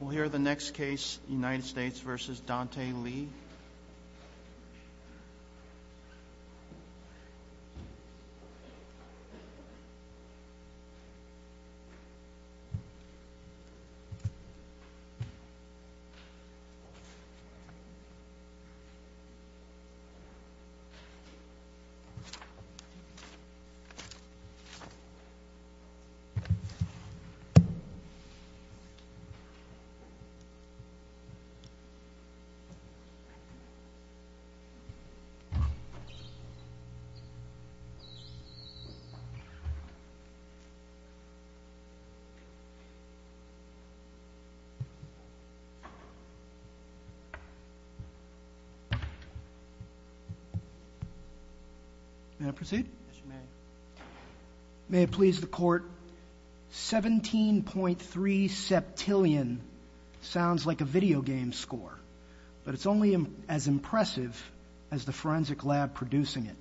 We'll hear the next case, United States v. Dante Lee. May I proceed? Yes you may. May it please the court, 17.3 septillion sounds like a video game score. But it's only as impressive as the forensic lab producing it.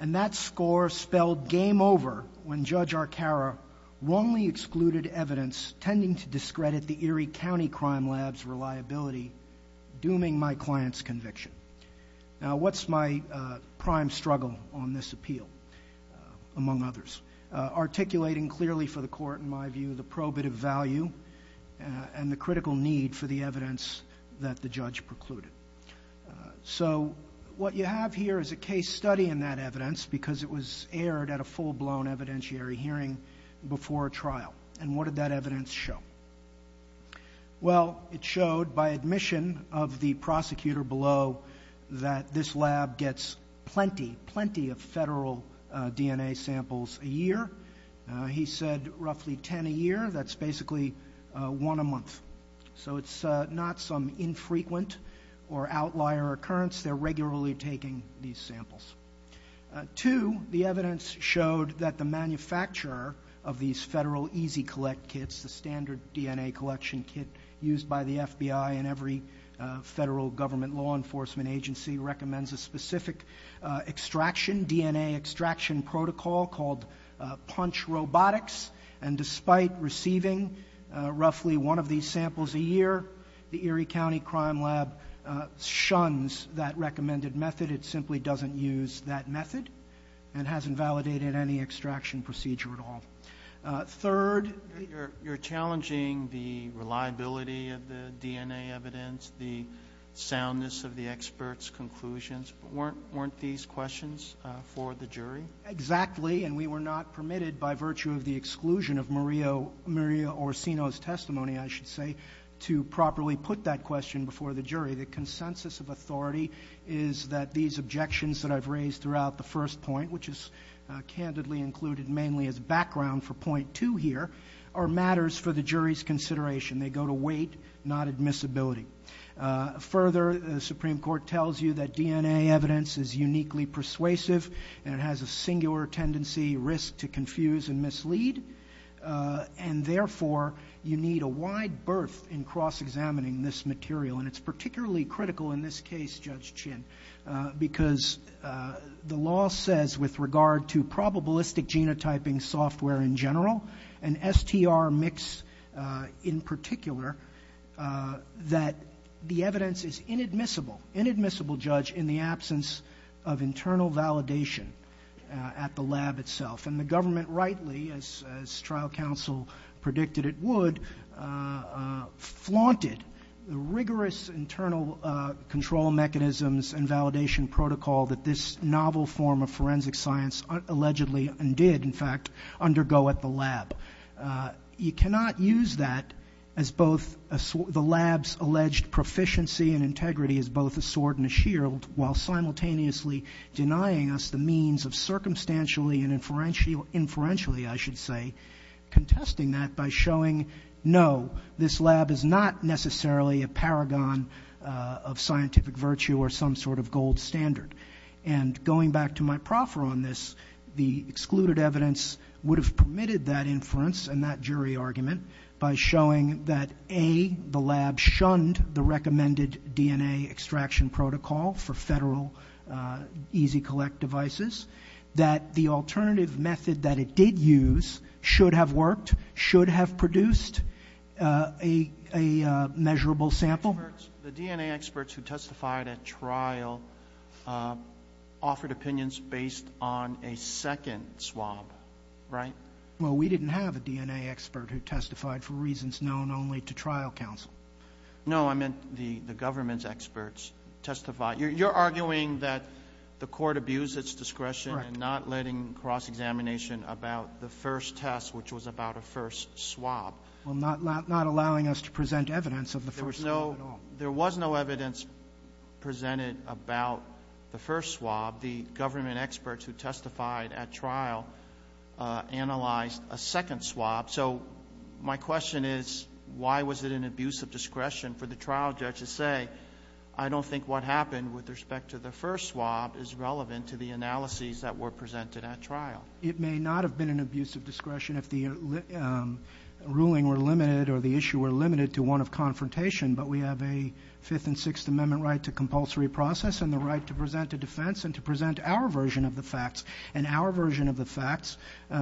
And that score spelled game over when Judge Arcara wrongly excluded evidence tending to discredit the Erie County Crime Lab's reliability, dooming my client's conviction. Now what's my prime struggle on this appeal, among others? Articulating clearly for the court, in my view, the probative value and the critical need for the evidence that the judge precluded. So what you have here is a case study in that evidence because it was aired at a full-blown evidentiary hearing before a trial. And what did that evidence show? Well, it showed by admission of the prosecutor below that this lab gets plenty, plenty of federal DNA samples a year. He said roughly 10 a year. That's basically one a month. So it's not some infrequent or outlier occurrence. They're regularly taking these samples. Two, the evidence showed that the manufacturer of these federal easy-collect kits, the standard DNA collection kit used by the FBI and every federal government law enforcement agency recommends a specific extraction, DNA extraction protocol called punch robotics. And despite receiving roughly one of these samples a year, the Erie County Crime Lab shuns that recommended method. It simply doesn't use that method and hasn't validated any extraction procedure at all. Third. You're challenging the reliability of the DNA evidence, the soundness of the experts' conclusions. Weren't these questions for the jury? Exactly, and we were not permitted by virtue of the exclusion of Maria Orsino's testimony, I should say, to properly put that question before the jury. The consensus of authority is that these objections that I've raised throughout the first point, which is candidly included mainly as background for point two here, are matters for the jury's consideration. They go to weight, not admissibility. Further, the Supreme Court tells you that DNA evidence is uniquely persuasive and it has a singular tendency, risk to confuse and mislead, and therefore you need a wide berth in cross-examining this material. And it's particularly critical in this case, Judge Chin, because the law says with regard to probabilistic genotyping software in general and STR mix in particular, that the evidence is inadmissible, inadmissible, Judge, in the absence of internal validation at the lab itself. And the government rightly, as trial counsel predicted it would, flaunted the rigorous internal control mechanisms and validation protocol that this novel form of forensic science allegedly and did, in fact, undergo at the lab. You cannot use that as both the lab's alleged proficiency and integrity as both a sword and a shield while simultaneously denying us the means of circumstantially and inferentially, I should say, contesting that by showing, no, this lab is not necessarily a paragon of scientific virtue or some sort of gold standard. And going back to my proffer on this, the excluded evidence would have permitted that inference and that jury argument by showing that, A, the lab shunned the recommended DNA extraction protocol for federal easy-collect devices, that the alternative method that it did use should have worked, should have produced a measurable sample. The DNA experts who testified at trial offered opinions based on a second swab, right? Well, we didn't have a DNA expert who testified for reasons known only to trial counsel. No, I meant the government's experts testified. You're arguing that the Court abused its discretion in not letting cross-examination about the first test, which was about a first swab. Well, not allowing us to present evidence of the first swab at all. There was no evidence presented about the first swab. The government experts who testified at trial analyzed a second swab. So my question is, why was it an abuse of discretion for the trial judge to say, I don't think what happened with respect to the first swab is relevant to the analyses that were presented at trial? It may not have been an abuse of discretion if the ruling were limited or the issue were limited to one of confrontation, but we have a Fifth and Sixth Amendment right to compulsory process and the right to present a defense and to present our version of the facts, and our version of the facts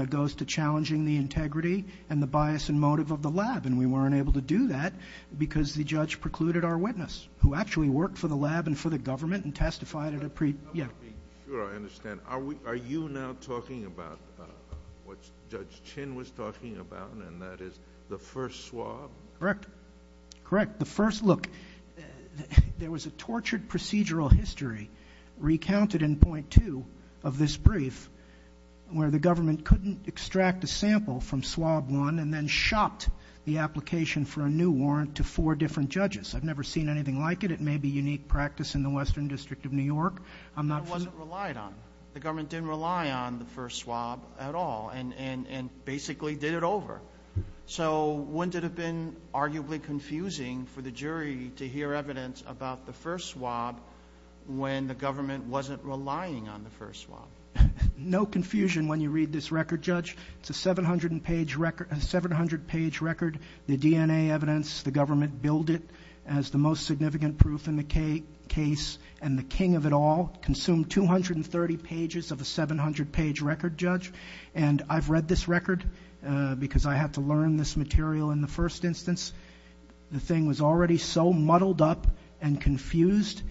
goes to challenging the integrity and the bias and motive of the lab, and we weren't able to do that because the judge precluded our witness, who actually worked for the lab and for the government and testified at a pre- I want to be sure I understand. Are you now talking about what Judge Chin was talking about, and that is the first swab? Correct. Correct. The first, look, there was a tortured procedural history recounted in point two of this brief where the government couldn't extract a sample from swab one and then shopped the application for a new warrant to four different judges. I've never seen anything like it. It may be unique practice in the Western District of New York. I'm not sure. But it wasn't relied on. The government didn't rely on the first swab at all and basically did it over. So wouldn't it have been arguably confusing for the jury to hear evidence about the first swab when the government wasn't relying on the first swab? No confusion when you read this record, Judge. It's a 700-page record. The DNA evidence, the government billed it as the most significant proof in the case, and the king of it all consumed 230 pages of a 700-page record, Judge. And I've read this record because I had to learn this material in the first instance. The thing was already so muddled up and confused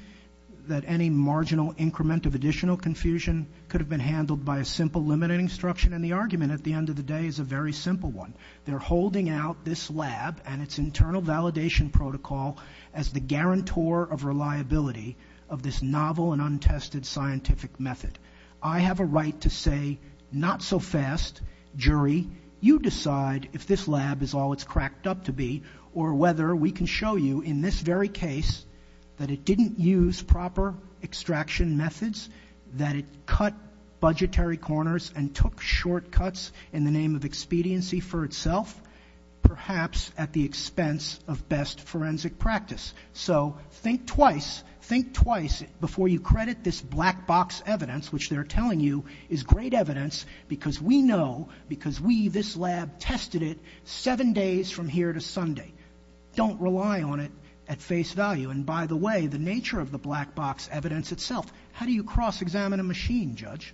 that any marginal increment of additional confusion could have been handled by a simple limiting instruction, and the argument at the end of the day is a very simple one. They're holding out this lab and its internal validation protocol as the guarantor of reliability of this novel and untested scientific method. I have a right to say not so fast, jury. You decide if this lab is all it's cracked up to be or whether we can show you in this very case that it didn't use proper extraction methods, that it cut budgetary corners and took shortcuts in the name of expediency for itself, perhaps at the expense of best forensic practice. So think twice, think twice before you credit this black box evidence, which they're telling you is great evidence because we know, because we, this lab, tested it seven days from here to Sunday. Don't rely on it at face value. And by the way, the nature of the black box evidence itself, how do you cross-examine a machine, Judge?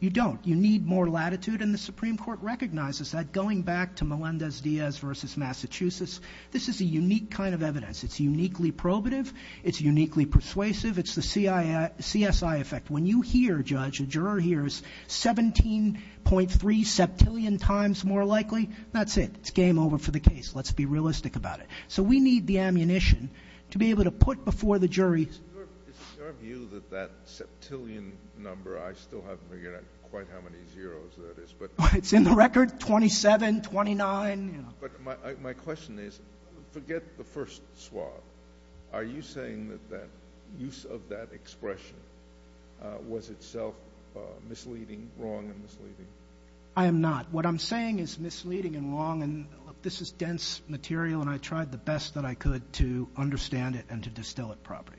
You don't. You need more latitude, and the Supreme Court recognizes that. Going back to Melendez-Diaz versus Massachusetts, this is a unique kind of evidence. It's uniquely probative. It's uniquely persuasive. It's the CSI effect. When you hear, Judge, a juror hears 17.3 septillion times more likely, that's it. It's game over for the case. Let's be realistic about it. So we need the ammunition to be able to put before the jury. Is it your view that that septillion number, I still haven't figured out quite how many zeros that is. It's in the record, 27, 29. But my question is, forget the first swab. Are you saying that use of that expression was itself misleading, wrong and misleading? I am not. What I'm saying is misleading and wrong, and this is dense material, and I tried the best that I could to understand it and to distill it properly.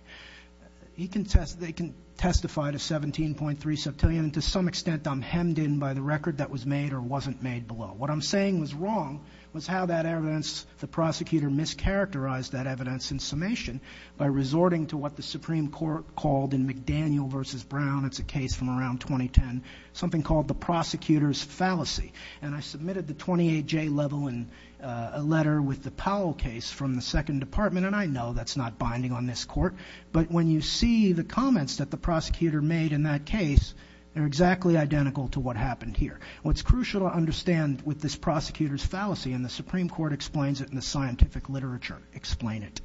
They can testify to 17.3 septillion, and to some extent I'm hemmed in by the record that was made or wasn't made below. What I'm saying was wrong was how that evidence, the prosecutor mischaracterized that evidence in summation by resorting to what the Supreme Court called in McDaniel v. Brown, it's a case from around 2010, something called the prosecutor's fallacy. And I submitted the 28J level in a letter with the Powell case from the second department, and I know that's not binding on this court, but when you see the comments that the prosecutor made in that case, they're exactly identical to what happened here. What's crucial to understand with this prosecutor's fallacy, and the Supreme Court explains it in the scientific literature, explain it,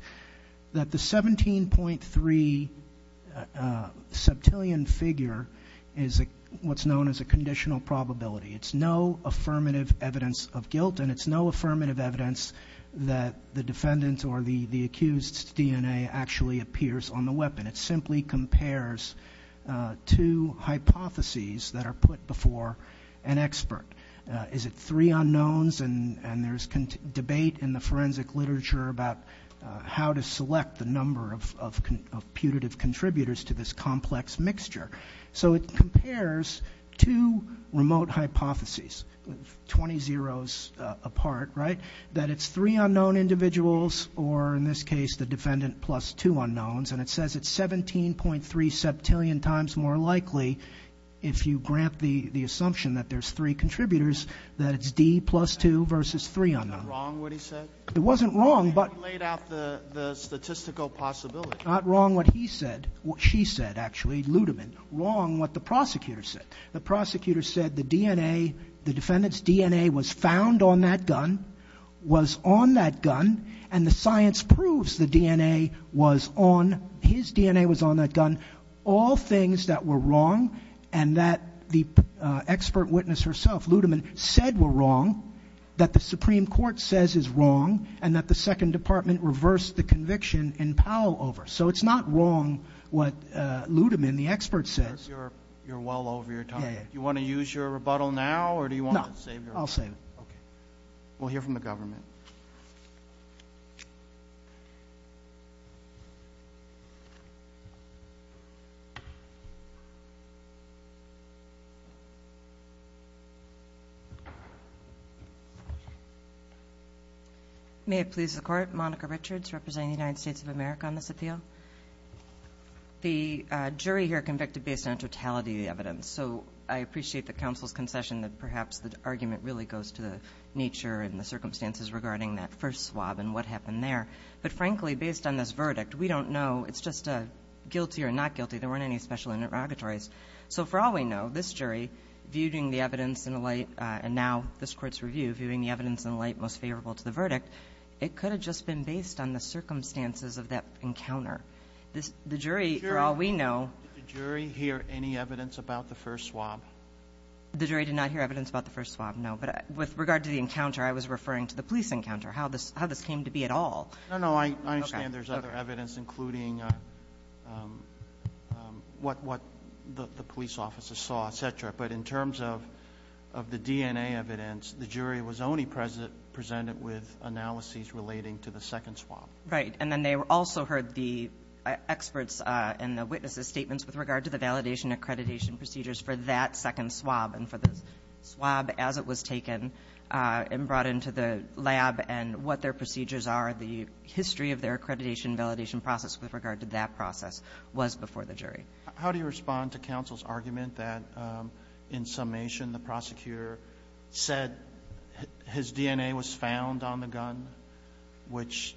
that the 17.3 septillion figure is what's known as a conditional probability. It's no affirmative evidence of guilt, and it's no affirmative evidence that the defendant or the accused's DNA actually appears on the weapon. It simply compares two hypotheses that are put before an expert. Is it three unknowns? And there's debate in the forensic literature about how to select the number of putative contributors to this complex mixture. So it compares two remote hypotheses, 20 zeros apart, right, that it's three unknown individuals or in this case the defendant plus two unknowns, and it says it's 17.3 septillion times more likely, if you grant the assumption that there's three contributors, that it's D plus two versus three unknowns. Was it wrong what he said? It wasn't wrong, but. He laid out the statistical possibility. Not wrong what he said, what she said, actually, Ludeman, wrong what the prosecutor said. The prosecutor said the DNA, the defendant's DNA was found on that gun, was on that gun, and the science proves the DNA was on, his DNA was on that gun. All things that were wrong and that the expert witness herself, Ludeman, said were wrong, that the Supreme Court says is wrong, and that the Second Department reversed the conviction in Powell over. So it's not wrong what Ludeman, the expert, says. You're well over your time. Yeah. Do you want to use your rebuttal now or do you want to save your rebuttal? No, I'll save it. Okay. We'll hear from the government. May it please the Court, Monica Richards representing the United States of America on this appeal. The jury here convicted based on totality of the evidence, so I appreciate the counsel's concession that perhaps the argument really goes to the nature and the circumstances regarding that first swab and what happened there. But frankly, based on this verdict, we don't know. It's just a guilty or not guilty. There weren't any special interrogatories. So for all we know, this jury, viewing the evidence in the light, and now this Court's review, viewing the evidence in the light most favorable to the verdict, it could have just been based on the circumstances of that encounter. The jury, for all we know. Did the jury hear any evidence about the first swab? The jury did not hear evidence about the first swab, no. But with regard to the encounter, I was referring to the police encounter, how this came to be at all. No, no, I understand there's other evidence, including what the police officers saw, et cetera. But in terms of the DNA evidence, the jury was only presented with analyses relating to the second swab. Right. And then they also heard the experts and the witnesses' statements with regard to the validation and accreditation procedures for that second swab and for the swab as it was taken and brought into the lab and what their procedures are, the history of their accreditation and validation process with regard to that process was before the jury. How do you respond to counsel's argument that, in summation, the prosecutor said his DNA was found on the gun, which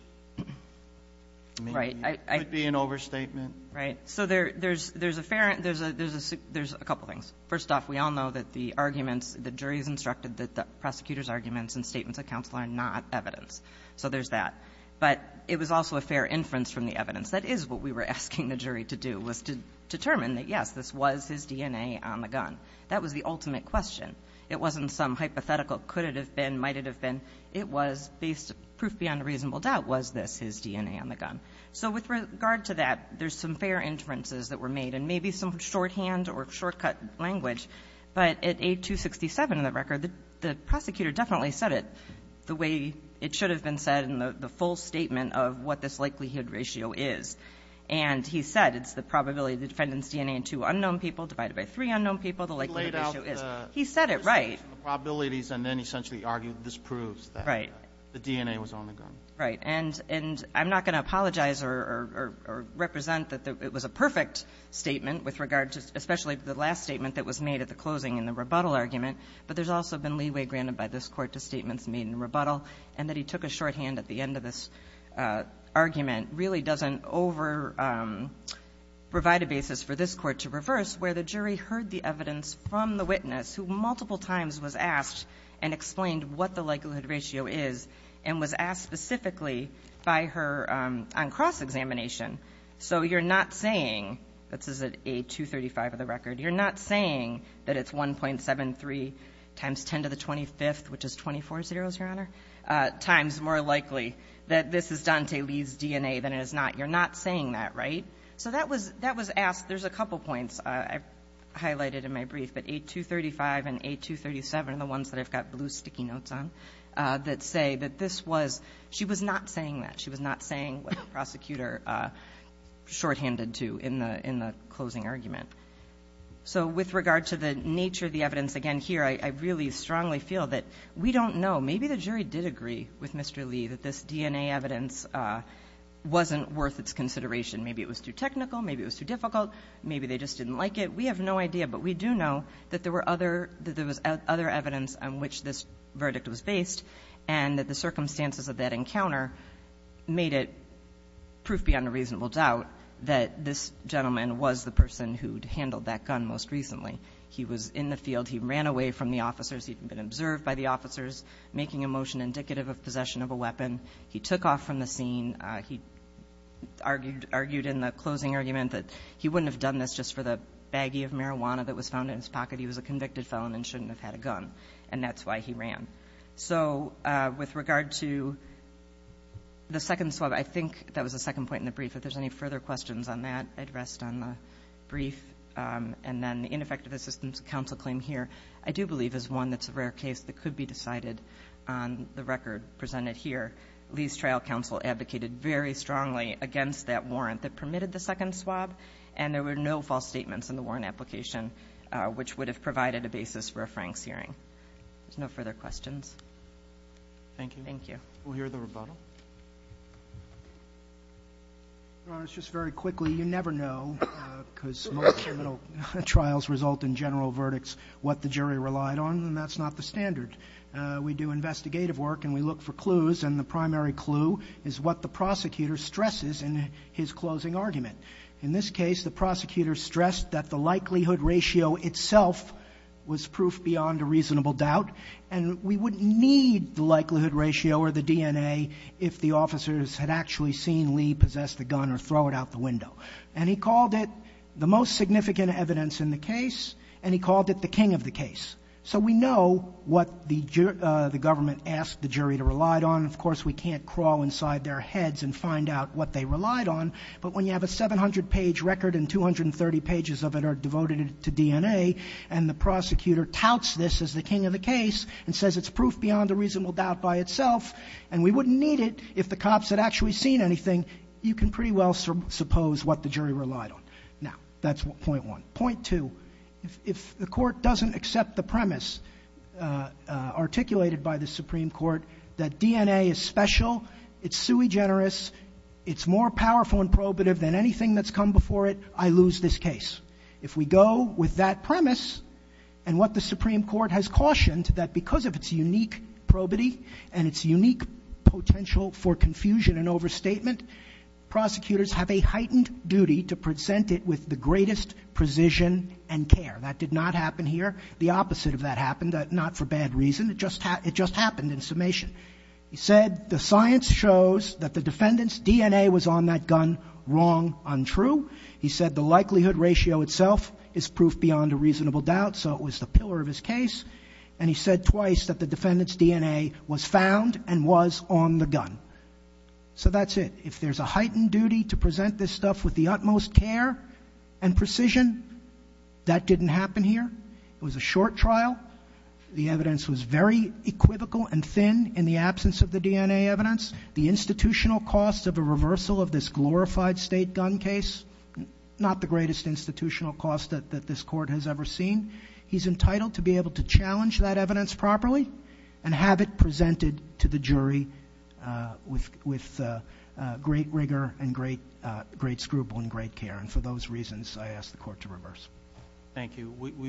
could be an overstatement? Right. So there's a fair ‑‑ there's a couple things. First off, we all know that the arguments, the jury's instructed that the prosecutor's arguments and statements of counsel are not evidence. So there's that. But it was also a fair inference from the evidence. That is what we were asking the jury to do, was to determine that, yes, this was his DNA on the gun. That was the ultimate question. It wasn't some hypothetical could it have been, might it have been. It was based, proof beyond a reasonable doubt, was this his DNA on the gun. So with regard to that, there's some fair inferences that were made and maybe some shorthand or shortcut language, but at A267 in the record, the prosecutor definitely said it the way it should have been said in the full statement of what this likelihood ratio is. And he said it's the probability of the defendant's DNA in two unknown people divided by three unknown people, the likelihood ratio is. He said it right. He laid out the probabilities and then essentially argued this proves that the DNA was on the gun. Right. And I'm not going to apologize or represent that it was a perfect statement with regard to especially the last statement that was made at the closing in the rebuttal argument, but there's also been leeway granted by this Court to statements made in rebuttal and that he took a shorthand at the end of this argument really doesn't overprovide a basis for this Court to reverse where the jury heard the evidence from the witness who multiple times was asked and explained what the likelihood ratio is and was asked specifically by her on cross-examination. So you're not saying this is at A235 of the record. You're not saying that it's 1.73 times 10 to the 25th, which is 24 zeros, Your Honor, times more likely that this is Dante Lee's DNA than it is not. You're not saying that, right? So that was asked. There's a couple points I've highlighted in my brief, but A235 and A237 are the ones that I've got blue sticky notes on that say that this was she was not saying that. She was not saying what the prosecutor shorthanded to in the closing argument. So with regard to the nature of the evidence again here, I really strongly feel that we don't know. Maybe the jury did agree with Mr. Lee that this DNA evidence wasn't worth its consideration. Maybe it was too technical. Maybe it was too difficult. Maybe they just didn't like it. We have no idea, but we do know that there was other evidence on which this verdict was based and that the circumstances of that encounter made it proof beyond a reasonable doubt that this gentleman was the person who'd handled that gun most recently. He was in the field. He ran away from the officers. He'd been observed by the officers making a motion indicative of possession of a weapon. He took off from the scene. He argued in the closing argument that he wouldn't have done this just for the baggie of marijuana that was found in his pocket. He was a convicted felon and shouldn't have had a gun, and that's why he ran. So with regard to the second swab, I think that was the second point in the brief. And then the ineffective assistance counsel claim here I do believe is one that's a rare case that could be decided on the record presented here. Lee's trial counsel advocated very strongly against that warrant that permitted the second swab, and there were no false statements in the warrant application which would have provided a basis for a Franks hearing. There's no further questions. Thank you. Thank you. We'll hear the rebuttal. Your Honor, just very quickly, you never know because most criminal trials result in general verdicts what the jury relied on, and that's not the standard. We do investigative work and we look for clues, and the primary clue is what the prosecutor stresses in his closing argument. In this case, the prosecutor stressed that the likelihood ratio itself was proof beyond a reasonable doubt, and we wouldn't need the likelihood ratio or the DNA if the officers had actually seen Lee possess the gun or throw it out the window. And he called it the most significant evidence in the case, and he called it the king of the case. So we know what the government asked the jury to rely on. Of course, we can't crawl inside their heads and find out what they relied on, but when you have a 700-page record and 230 pages of it are devoted to DNA and the prosecutor touts this as the king of the case and says it's proof beyond a reasonable doubt by itself and we wouldn't need it if the cops had actually seen anything, you can pretty well suppose what the jury relied on. Now, that's point one. Point two, if the court doesn't accept the premise articulated by the Supreme Court that DNA is special, it's sui generis, it's more powerful and probative than anything that's come before it, I lose this case. If we go with that premise and what the Supreme Court has cautioned, that because of its unique probity and its unique potential for confusion and overstatement, prosecutors have a heightened duty to present it with the greatest precision and care. That did not happen here. The opposite of that happened, not for bad reason. It just happened in summation. He said the science shows that the defendant's DNA was on that gun wrong, untrue. He said the likelihood ratio itself is proof beyond a reasonable doubt, so it was the pillar of his case. And he said twice that the defendant's DNA was found and was on the gun. So that's it. If there's a heightened duty to present this stuff with the utmost care and precision, that didn't happen here. It was a short trial. The evidence was very equivocal and thin in the absence of the DNA evidence. The institutional cost of a reversal of this glorified state gun case, not the greatest institutional cost that this court has ever seen. He's entitled to be able to challenge that evidence properly and have it presented to the jury with great rigor and great scruple and great care. And for those reasons, I ask the court to reverse. Thank you.